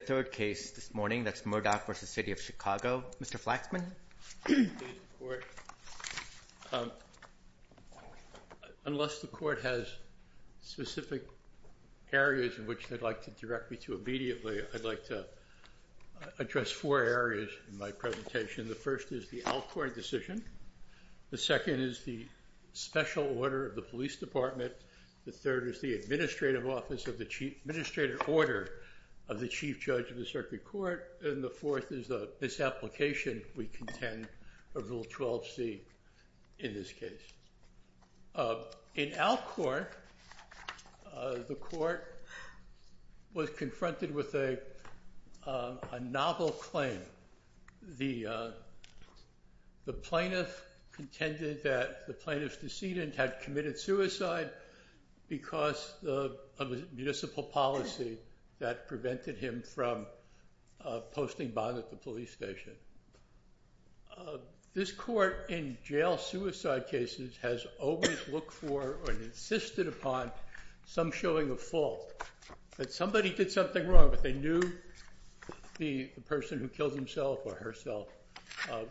The third case this morning, that's Murdock v. City of Chicago. Mr. Flaxman? Unless the court has specific areas in which they'd like to direct me to immediately, I'd like to address four areas in my presentation. The first is the Alcord decision. The second is the special order of the police department. The third is the administrative order of the chief judge of the circuit court. And the fourth is the misapplication, we contend, of Rule 12c in this case. In Alcord, the court was confronted with a novel claim. The plaintiff contended that the plaintiff's decedent had committed suicide because of a municipal policy that prevented him from posting bond at the police station. This court, in jail suicide cases, has always looked for or insisted upon some showing of fault. That somebody did something wrong, but they knew the person who killed himself or herself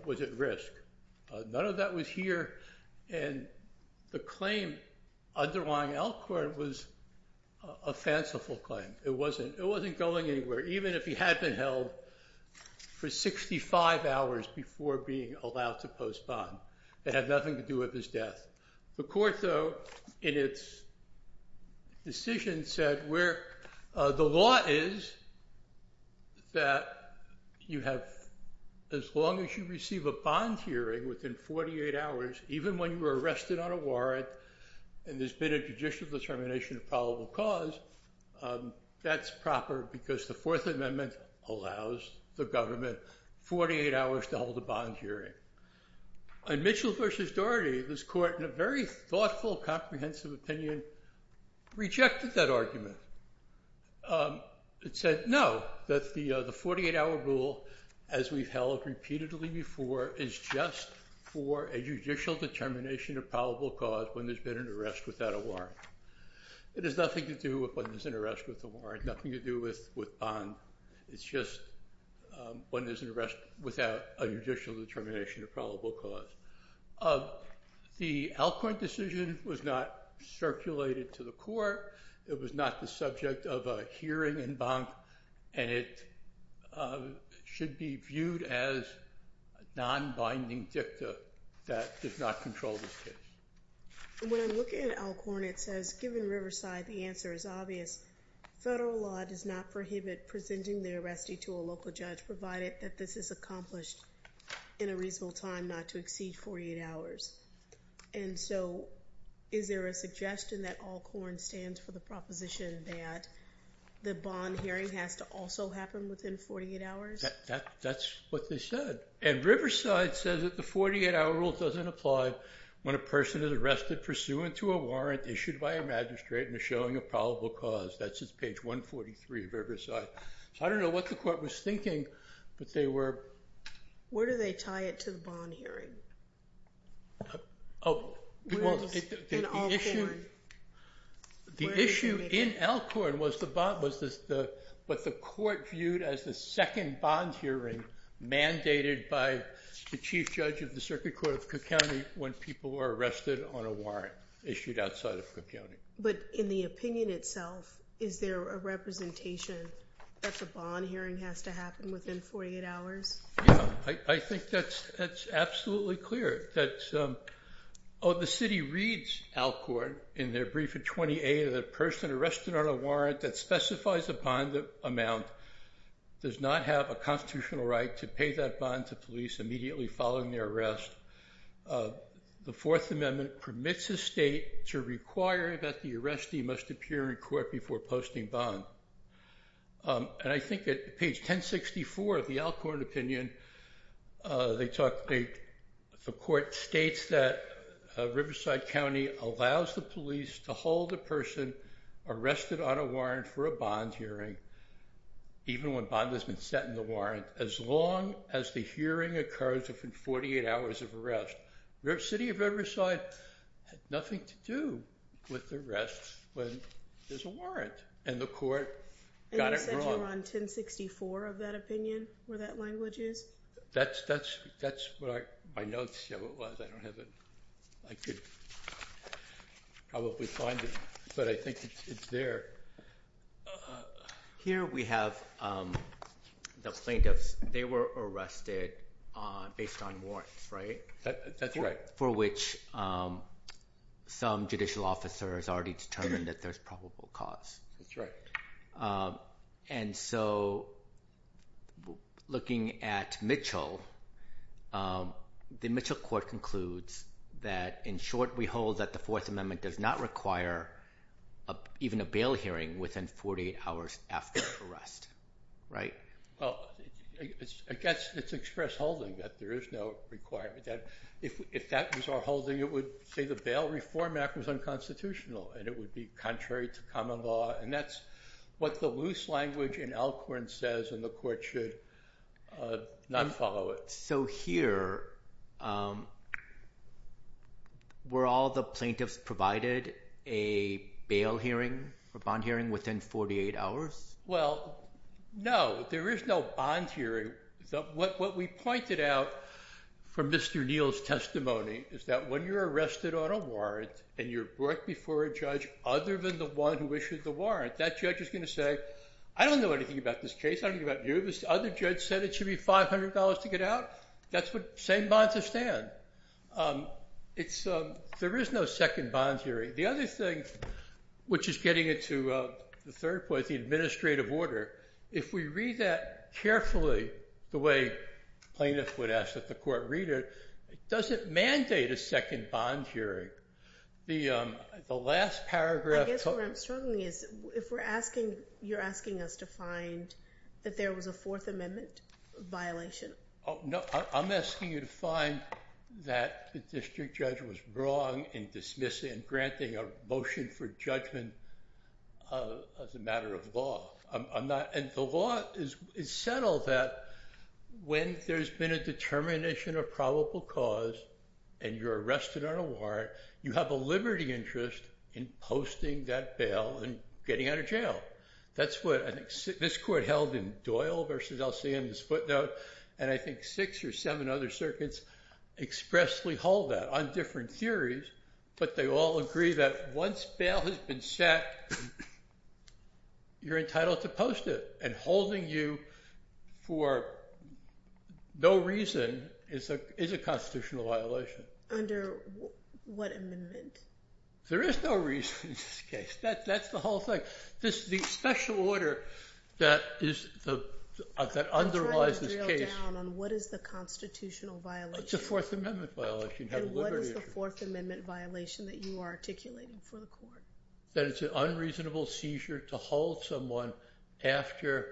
was at risk. None of that was here, and the claim underlying Alcord was a fanciful claim. It wasn't going anywhere, even if he had been held for 65 hours before being allowed to post bond. It had nothing to do with his death. The court, though, in its decision, said the law is that as long as you receive a bond hearing within 48 hours, even when you were arrested on a warrant and there's been a judicial determination of probable cause, that's proper because the Fourth Amendment allows the government 48 hours to hold a bond hearing. In Mitchell v. Doherty, this court, in a very thoughtful, comprehensive opinion, rejected that argument. It said, no, that the 48-hour rule, as we've held repeatedly before, is just for a judicial determination of probable cause when there's been an arrest without a warrant. It has nothing to do with when there's an arrest with a warrant, nothing to do with bond. It's just when there's an arrest without a judicial determination of probable cause. The Alcord decision was not circulated to the court. It was not the subject of a hearing in Banff, and it should be viewed as a nonbinding dicta that did not control this case. When I look at Alcorn, it says, given Riverside, the answer is obvious. Federal law does not prohibit presenting the arrestee to a local judge, provided that this is accomplished in a reasonable time not to exceed 48 hours. And so is there a suggestion that Alcorn stands for the proposition that the bond hearing has to also happen within 48 hours? That's what they said. And Riverside says that the 48-hour rule doesn't apply when a person is arrested pursuant to a warrant issued by a magistrate and is showing a probable cause. That's at page 143 of Riverside. I don't know what the court was thinking, but they were— Where do they tie it to the bond hearing? The issue in Alcorn was what the court viewed as the second bond hearing mandated by the chief judge of the Circuit Court of Cook County when people were arrested on a warrant issued outside of Cook County. But in the opinion itself, is there a representation that the bond hearing has to happen within 48 hours? I think that's absolutely clear. The city reads Alcorn in their brief at 28, that a person arrested on a warrant that specifies a bond amount does not have a constitutional right to pay that bond to police immediately following their arrest. The Fourth Amendment permits a state to require that the arrestee must appear in court before posting bond. And I think at page 1064 of the Alcorn opinion, the court states that Riverside County allows the police to hold a person arrested on a warrant for a bond hearing even when bond has been set in the warrant as long as the hearing occurs within 48 hours of arrest. The city of Riverside had nothing to do with the arrest when there's a warrant, and the court got it wrong. And you said you're on 1064 of that opinion, where that language is? That's what my notes show it was. I don't have it. I could probably find it, but I think it's there. Here we have the plaintiffs. They were arrested based on warrants, right? That's right. For which some judicial officers already determined that there's probable cause. That's right. And so looking at Mitchell, the Mitchell court concludes that in short, we hold that the Fourth Amendment does not require even a bail hearing within 48 hours after arrest, right? I guess it's express holding that there is no requirement. If that was our holding, it would say the Bail Reform Act was unconstitutional, and it would be contrary to common law, and that's what the loose language in Alcorn says, and the court should not follow it. So here, were all the plaintiffs provided a bail hearing or bond hearing within 48 hours? Well, no, there is no bond hearing. What we pointed out from Mr. Neal's testimony is that when you're arrested on a warrant and you're brought before a judge other than the one who issued the warrant, that judge is going to say, I don't know anything about this case. I don't know anything about you. This other judge said it should be $500 to get out. That's the same bond to stand. There is no second bond hearing. The other thing, which is getting into the third point, the administrative order, if we read that carefully the way plaintiffs would ask that the court read it, it doesn't mandate a second bond hearing. The last paragraph. I guess where I'm struggling is if you're asking us to find that there was a Fourth Amendment violation. I'm asking you to find that the district judge was wrong in dismissing and granting a motion for judgment as a matter of law. And the law is settled that when there's been a determination of probable cause and you're arrested on a warrant, you have a liberty interest in posting that bail and getting out of jail. This court held in Doyle versus LCM, this footnote, and I think six or seven other circuits expressly hold that on different theories, but they all agree that once bail has been set, you're entitled to post it. And holding you for no reason is a constitutional violation. Under what amendment? There is no reason in this case. That's the whole thing. The special order that underlies this case. I'm trying to drill down on what is the constitutional violation. It's a Fourth Amendment violation. And what is the Fourth Amendment violation that you are articulating for the court? That it's an unreasonable seizure to hold someone after,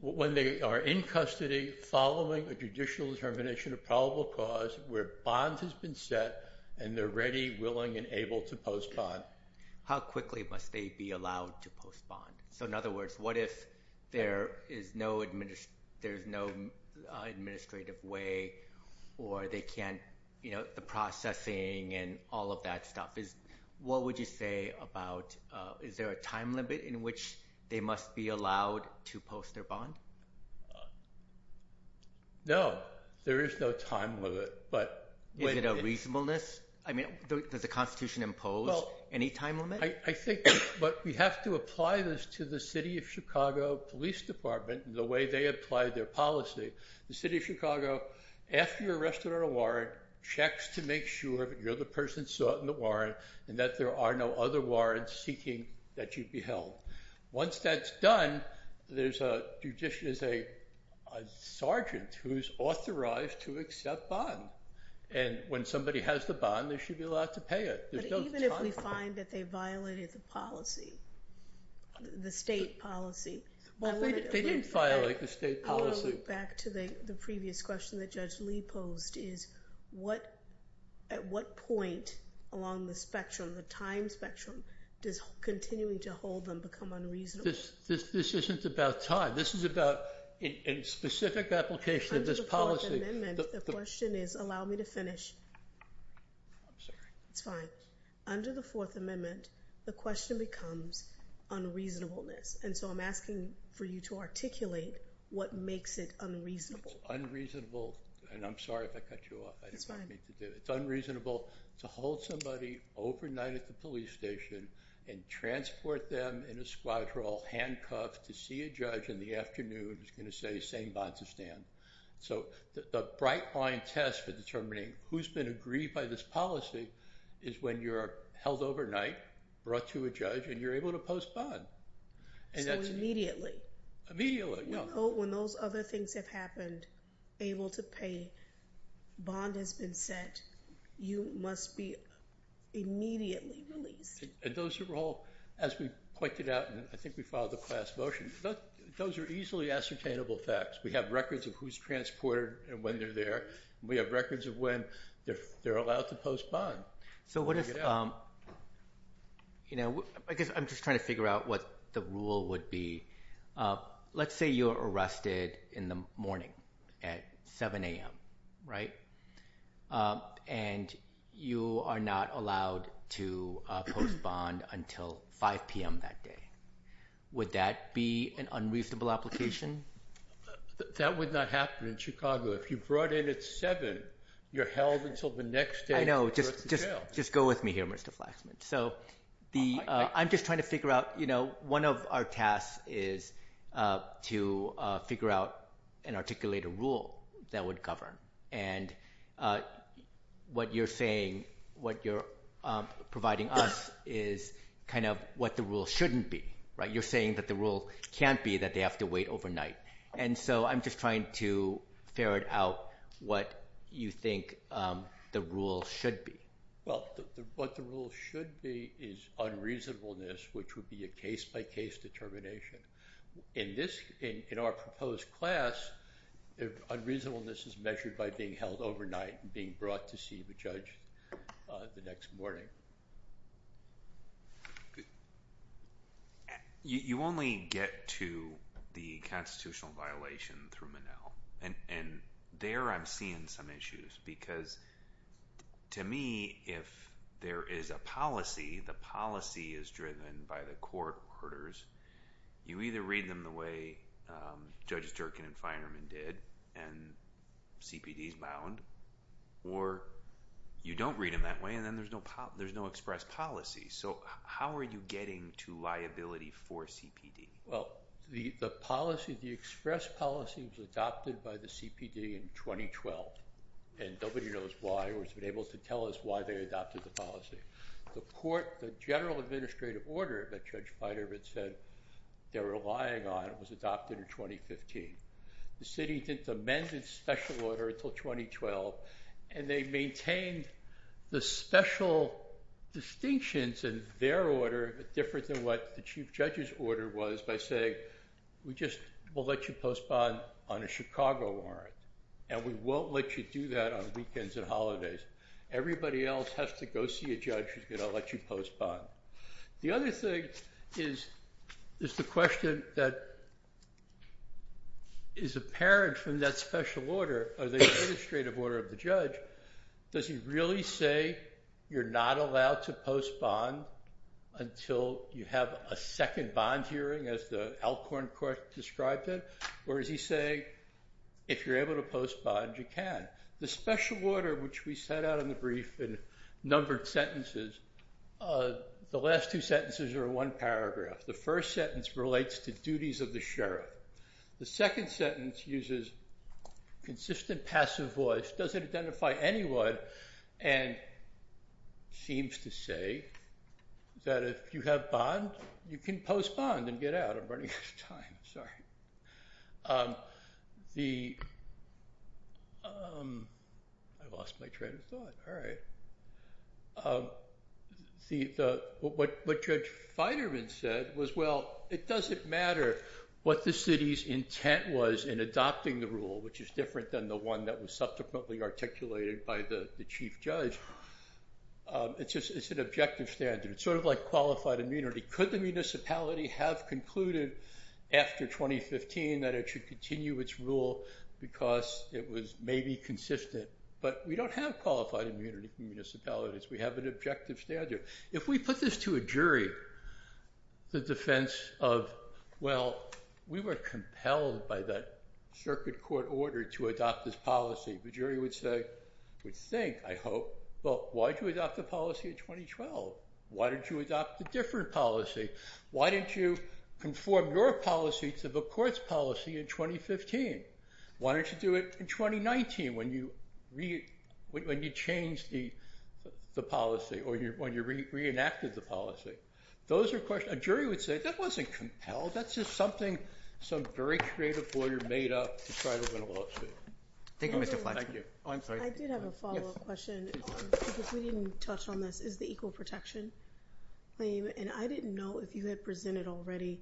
when they are in custody following a judicial determination of probable cause where bond has been set and they're ready, willing, and able to post bond. How quickly must they be allowed to post bond? So in other words, what if there is no administrative way or they can't, you know, the processing and all of that stuff. What would you say about is there a time limit in which they must be allowed to post their bond? No. There is no time limit. Is it a reasonableness? I mean, does the Constitution impose any time limit? I think we have to apply this to the City of Chicago Police Department and the way they apply their policy. The City of Chicago, after you're arrested on a warrant, checks to make sure that you're the person sought in the warrant and that there are no other warrants seeking that you be held. Once that's done, there's a, a sergeant who's authorized to accept bond. And when somebody has the bond, they should be allowed to pay it. But even if we find that they violated the policy, the state policy. They didn't violate the state policy. I want to go back to the previous question that Judge Lee posed, is at what point along the spectrum, the time spectrum, does continuing to hold them become unreasonable? This isn't about time. This is about a specific application of this policy. Under the Fourth Amendment, the question is, allow me to finish. I'm sorry. It's fine. Under the Fourth Amendment, the question becomes unreasonableness. And so I'm asking for you to articulate what makes it unreasonable. It's unreasonable, and I'm sorry if I cut you off. It's fine. It's unreasonable to hold somebody overnight at the police station and transport them in a squad crawl, handcuffed, to see a judge in the afternoon who's going to say, same bond to stand. So the bright line test for determining who's been agreed by this policy is when you're held overnight, brought to a judge, and you're able to post bond. So immediately. Immediately. When those other things have happened, able to pay, bond has been sent, you must be immediately released. And those are all, as we pointed out, and I think we followed the class motion, those are easily ascertainable facts. We have records of who's transported and when they're there. We have records of when they're allowed to post bond. So what is, you know, I guess I'm just trying to figure out what the rule would be. Let's say you're arrested in the morning at 7 a.m., right? And you are not allowed to post bond until 5 p.m. that day. Would that be an unreasonable application? That would not happen in Chicago. If you're brought in at 7, you're held until the next day. I know. Just go with me here, Mr. Flaxman. So I'm just trying to figure out, you know, one of our tasks is to figure out and articulate a rule that would govern. And what you're saying, what you're providing us, is kind of what the rule shouldn't be, right? You're saying that the rule can't be that they have to wait overnight. And so I'm just trying to ferret out what you think the rule should be. Well, what the rule should be is unreasonableness, which would be a case-by-case determination. In our proposed class, unreasonableness is measured by being held overnight and being brought to see the judge the next morning. You only get to the constitutional violation through Monell. And there I'm seeing some issues because, to me, if there is a policy, the policy is driven by the court orders. You either read them the way Judges Jerkin and Feinerman did, and CPD is bound, or you don't read them that way, and then there's no express policy. So how are you getting to liability for CPD? Well, the express policy was adopted by the CPD in 2012, and nobody knows why or has been able to tell us why they adopted the policy. The court, the general administrative order that Judge Feinerman said they were relying on was adopted in 2015. The city didn't amend its special order until 2012, and they maintained the special distinctions in their order, but different than what the Chief Judge's order was by saying, we'll let you postpone on a Chicago warrant, and we won't let you do that on weekends and holidays. Everybody else has to go see a judge who's going to let you postpone. The other thing is the question that is apparent from that special order, or the administrative order of the judge, does he really say you're not allowed to postpone until you have a second bond hearing, as the Alcorn Court described it, or is he saying if you're able to postpone, you can? The special order, which we set out in the brief in numbered sentences, the last two sentences are one paragraph. The first sentence relates to duties of the sheriff. The second sentence uses consistent passive voice, doesn't identify anyone, and seems to say that if you have bond, you can postpone and get out. I'm running out of time. Sorry. I lost my train of thought. What Judge Feiderman said was, well, it doesn't matter what the city's intent was in adopting the rule, which is different than the one that was subsequently articulated by the Chief Judge. It's an objective standard. It's sort of like qualified immunity. Could the municipality have concluded, after 2015, that it should continue its rule because it was maybe consistent? But we don't have qualified immunity in municipalities. We have an objective standard. If we put this to a jury, the defense of, well, we were compelled by that circuit court order to adopt this policy, the jury would say, would think, I hope, well, why did you adopt the policy in 2012? Why did you adopt a different policy? Why didn't you conform your policy to the court's policy in 2015? Why didn't you do it in 2019 when you changed the policy, or when you reenacted the policy? A jury would say, that wasn't compelled. That's just something some very creative lawyer made up to try to win a lawsuit. Thank you, Mr. Fletcher. I did have a follow-up question. If we didn't touch on this, is the equal protection claim, and I didn't know if you had presented already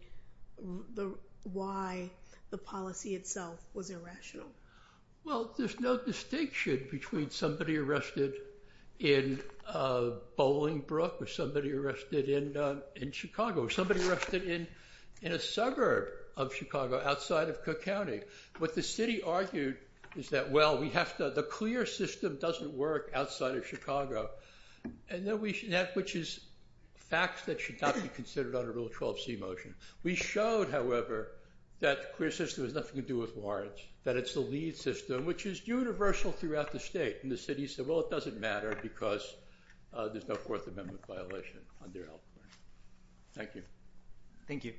why the policy itself was irrational. Well, there's no distinction between somebody arrested in Bolingbrook or somebody arrested in Chicago, somebody arrested in a suburb of Chicago outside of Cook County. What the city argued is that, well, we have to, the clear system doesn't work outside of Chicago, which is facts that should not be considered under Rule 12c motion. We showed, however, that the clear system has nothing to do with warrants, that it's the lead system, which is universal throughout the state. And the city said, well, it doesn't matter because there's no Fourth Amendment violation. Thank you. Thank you.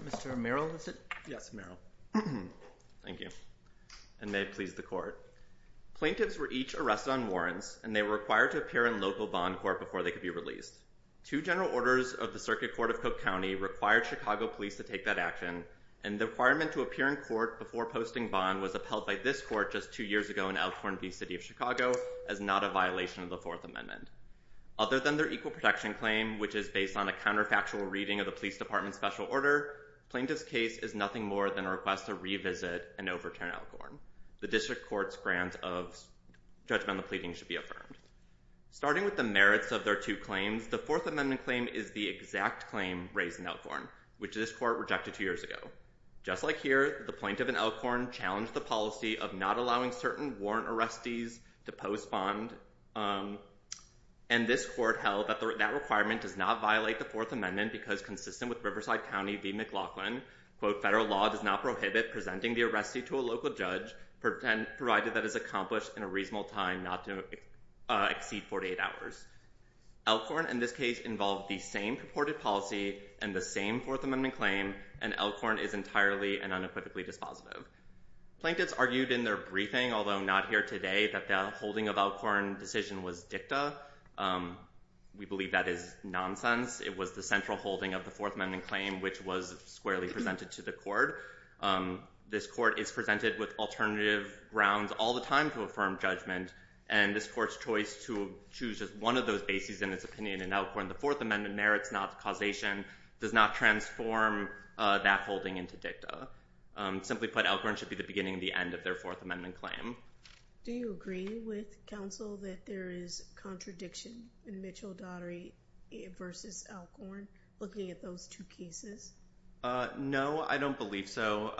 Mr. Merrill, is it? Yes, Merrill. Thank you, and may it please the Court. Plaintiffs were each arrested on warrants, and they were required to appear in local bond court before they could be released. Two general orders of the Circuit Court of Cook County required Chicago police to take that action, and the requirement to appear in court before posting bond was upheld by this court just two years ago in Alcorn v. City of Chicago as not a violation of the Fourth Amendment. Other than their equal protection claim, which is based on a counterfactual reading of the police department's special order, plaintiff's case is nothing more than a request to revisit and overturn Alcorn. The district court's grant of judgment on the pleading should be affirmed. Starting with the merits of their two claims, the Fourth Amendment claim is the exact claim raised in Alcorn, which this court rejected two years ago. Just like here, the plaintiff in Alcorn challenged the policy of not allowing certain warrant arrestees to post bond, and this court held that that requirement does not violate the Fourth Amendment because consistent with Riverside County v. McLaughlin, quote, federal law does not prohibit presenting the arrestee to a local judge provided that is accomplished in a reasonable time not to exceed 48 hours. Alcorn in this case involved the same purported policy and the same Fourth Amendment claim, and Alcorn is entirely and unequivocally dispositive. Plaintiffs argued in their briefing, although not here today, that the holding of Alcorn decision was dicta. We believe that is nonsense. It was the central holding of the Fourth Amendment claim, which was squarely presented to the court. This court is presented with alternative grounds all the time to affirm judgment, and this court's choice to choose just one of those bases in its opinion in Alcorn, the Fourth Amendment merits not causation, does not transform that holding into dicta. Simply put, Alcorn should be the beginning and the end of their Fourth Amendment claim. Do you agree with counsel that there is contradiction in Mitchell-Dottery v. Alcorn looking at those two cases? No, I don't believe so.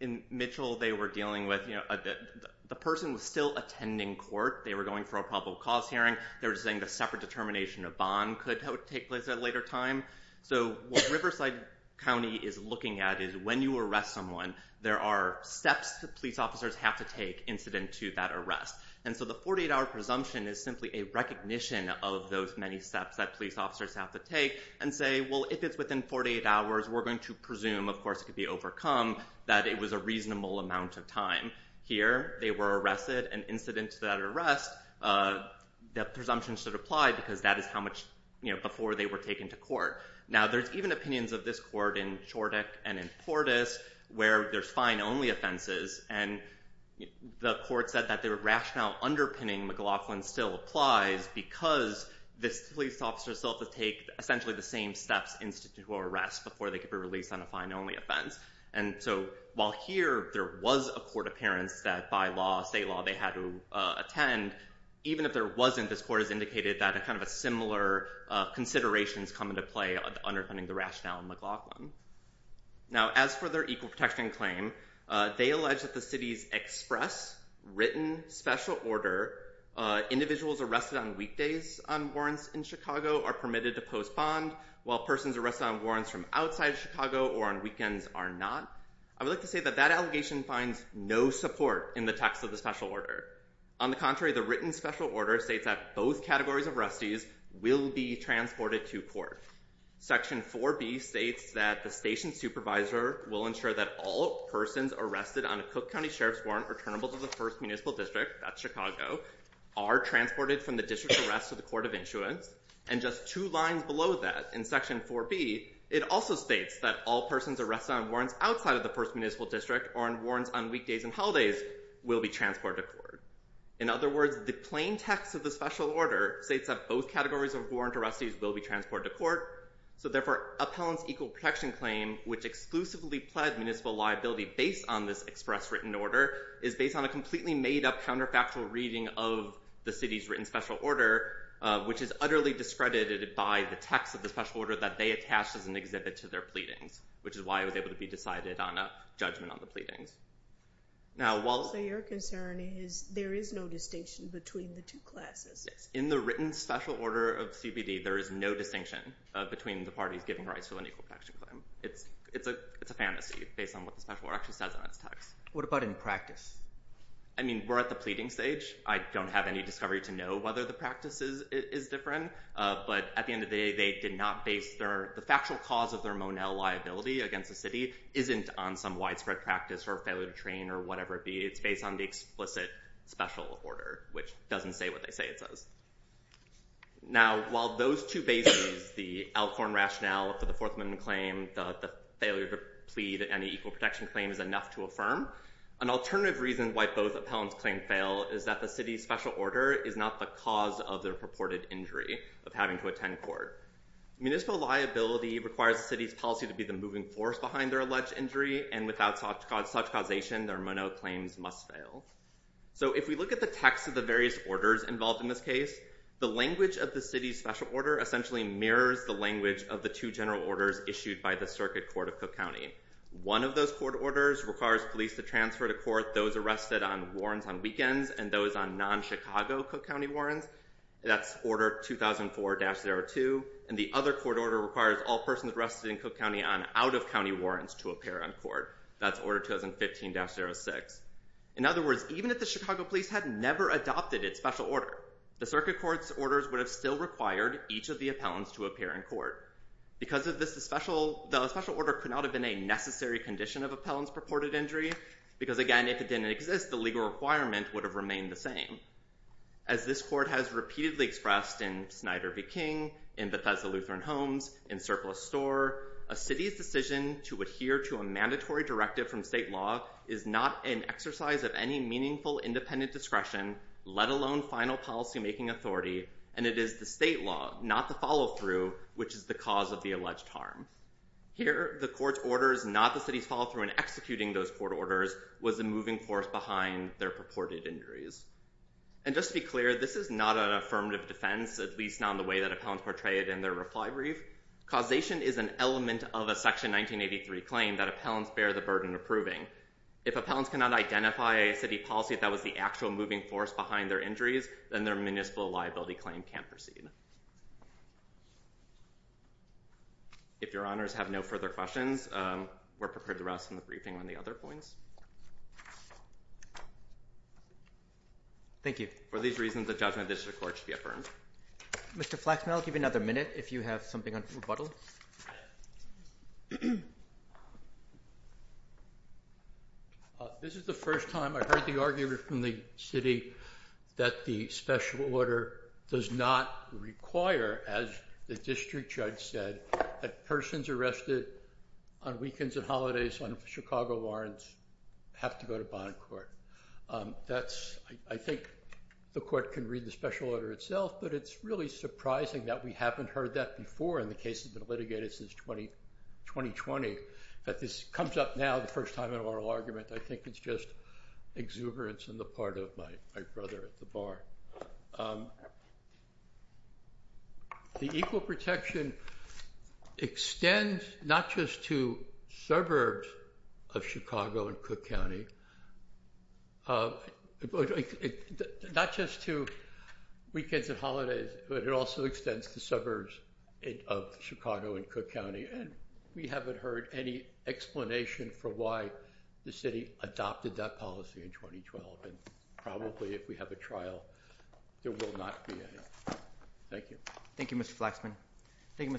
In Mitchell, they were dealing with the person was still attending court. They were going for a probable cause hearing. They were saying the separate determination of bond could take place at a later time. What Riverside County is looking at is when you arrest someone, there are steps that police officers have to take incident to that arrest. The 48-hour presumption is simply a recognition of those many steps that police officers have to take and say, well, if it's within 48 hours, we're going to presume, of course, it could be overcome, that it was a reasonable amount of time. Here, they were arrested, and incident to that arrest, the presumption should apply because that is how much before they were taken to court. Now, there's even opinions of this court in Chordick and in Portis where there's fine-only offenses, and the court said that the rationale underpinning McLaughlin still applies because this police officer still has to take essentially the same steps incident to arrest before they could be released on a fine-only offense. While here, there was a court appearance that by law, state law, they had to attend, even if there wasn't, this court has indicated that kind of similar considerations come into play underpinning the rationale in McLaughlin. Now, as for their equal protection claim, they allege that the city's express, written, special order, individuals arrested on weekdays on warrants in Chicago are permitted to postpone while persons arrested on warrants from outside Chicago or on weekends are not. I would like to say that that allegation finds no support in the text of the special order. On the contrary, the written special order states that both categories of arrestees will be transported to court. Section 4B states that the station supervisor will ensure that all persons arrested on a Cook County Sheriff's warrant are turnable to the first municipal district, that's Chicago, are transported from the district to the rest of the court of insurance, and just two lines below that in Section 4B, it also states that all persons arrested on warrants outside of the first municipal district or on warrants on weekdays and holidays will be transported to court. In other words, the plain text of the special order states that both categories of warrant arrestees will be transported to court, so therefore, Appellant's equal protection claim, which exclusively pled municipal liability based on this express written order, is based on a completely made-up counterfactual reading of the city's written special order, which is utterly discredited by the text of the special order so that they attach it as an exhibit to their pleadings, which is why it was able to be decided on a judgment on the pleadings. So your concern is there is no distinction between the two classes? Yes. In the written special order of CBD, there is no distinction between the parties giving rights to an equal protection claim. It's a fantasy based on what the special order actually says on its text. What about in practice? I mean, we're at the pleading stage. I don't have any discovery to know whether the practice is different, but at the end of the day, they did not base their, the factual cause of their Monell liability against the city isn't on some widespread practice or failure to train or whatever it be. It's based on the explicit special order, which doesn't say what they say it says. Now, while those two bases, the Alcorn rationale for the Fourth Amendment claim, the failure to plead any equal protection claim is enough to affirm, an alternative reason why both Appellant's claims fail is that the city's special order is not the cause of their purported injury of having to attend court. Municipal liability requires the city's policy to be the moving force behind their alleged injury, and without such causation, their Monell claims must fail. So if we look at the text of the various orders involved in this case, the language of the city's special order essentially mirrors the language of the two general orders issued by the Circuit Court of Cook County. One of those court orders requires police to transfer to court those arrested on warrants on weekends and those on non-Chicago Cook County warrants. That's Order 2004-02. And the other court order requires all persons arrested in Cook County on out-of-county warrants to appear on court. That's Order 2015-06. In other words, even if the Chicago police had never adopted its special order, the Circuit Court's orders would have still required each of the Appellants to appear in court. Because of this, the special order could not have been a necessary condition of Appellants' purported injury, because again, if it didn't exist, the legal requirement would have remained the same. As this Court has repeatedly expressed in Snyder v. King, in Bethesda Lutheran Homes, in Surplus Store, a city's decision to adhere to a mandatory directive from state law is not an exercise of any meaningful independent discretion, let alone final policymaking authority, and it is the state law, not the follow-through, which is the cause of the alleged harm. Here, the Court's orders, not the city's follow-through in executing those court orders, was the moving force behind their purported injuries. And just to be clear, this is not an affirmative defense, at least not in the way that Appellants portray it in their reply brief. Causation is an element of a Section 1983 claim that Appellants bear the burden of proving. If Appellants cannot identify a city policy that was the actual moving force behind their injuries, then their municipal liability claim can't proceed. If your Honors have no further questions, we're prepared to rest in the briefing on the other points. Thank you. For these reasons, the judgment of the District Court should be affirmed. Mr. Flexman, I'll give you another minute if you have something to rebuttal. This is the first time I've heard the argument from the city that the special order does not require, as the district judge said, that persons arrested on weekends and holidays on Chicago warrants have to go to bond court. I think the court can read the special order itself, but it's really surprising that we haven't heard that before in the cases that have been litigated since 2020, that this comes up now the first time in an oral argument. I think it's just exuberance on the part of my colleagues. My brother at the bar. The equal protection extends not just to suburbs of Chicago and Cook County, not just to weekends and holidays, but it also extends to suburbs of Chicago and Cook County, and we haven't heard any explanation for why the city adopted that policy in 2012. I don't think that's going to happen. Probably if we have a trial, there will not be any. Thank you.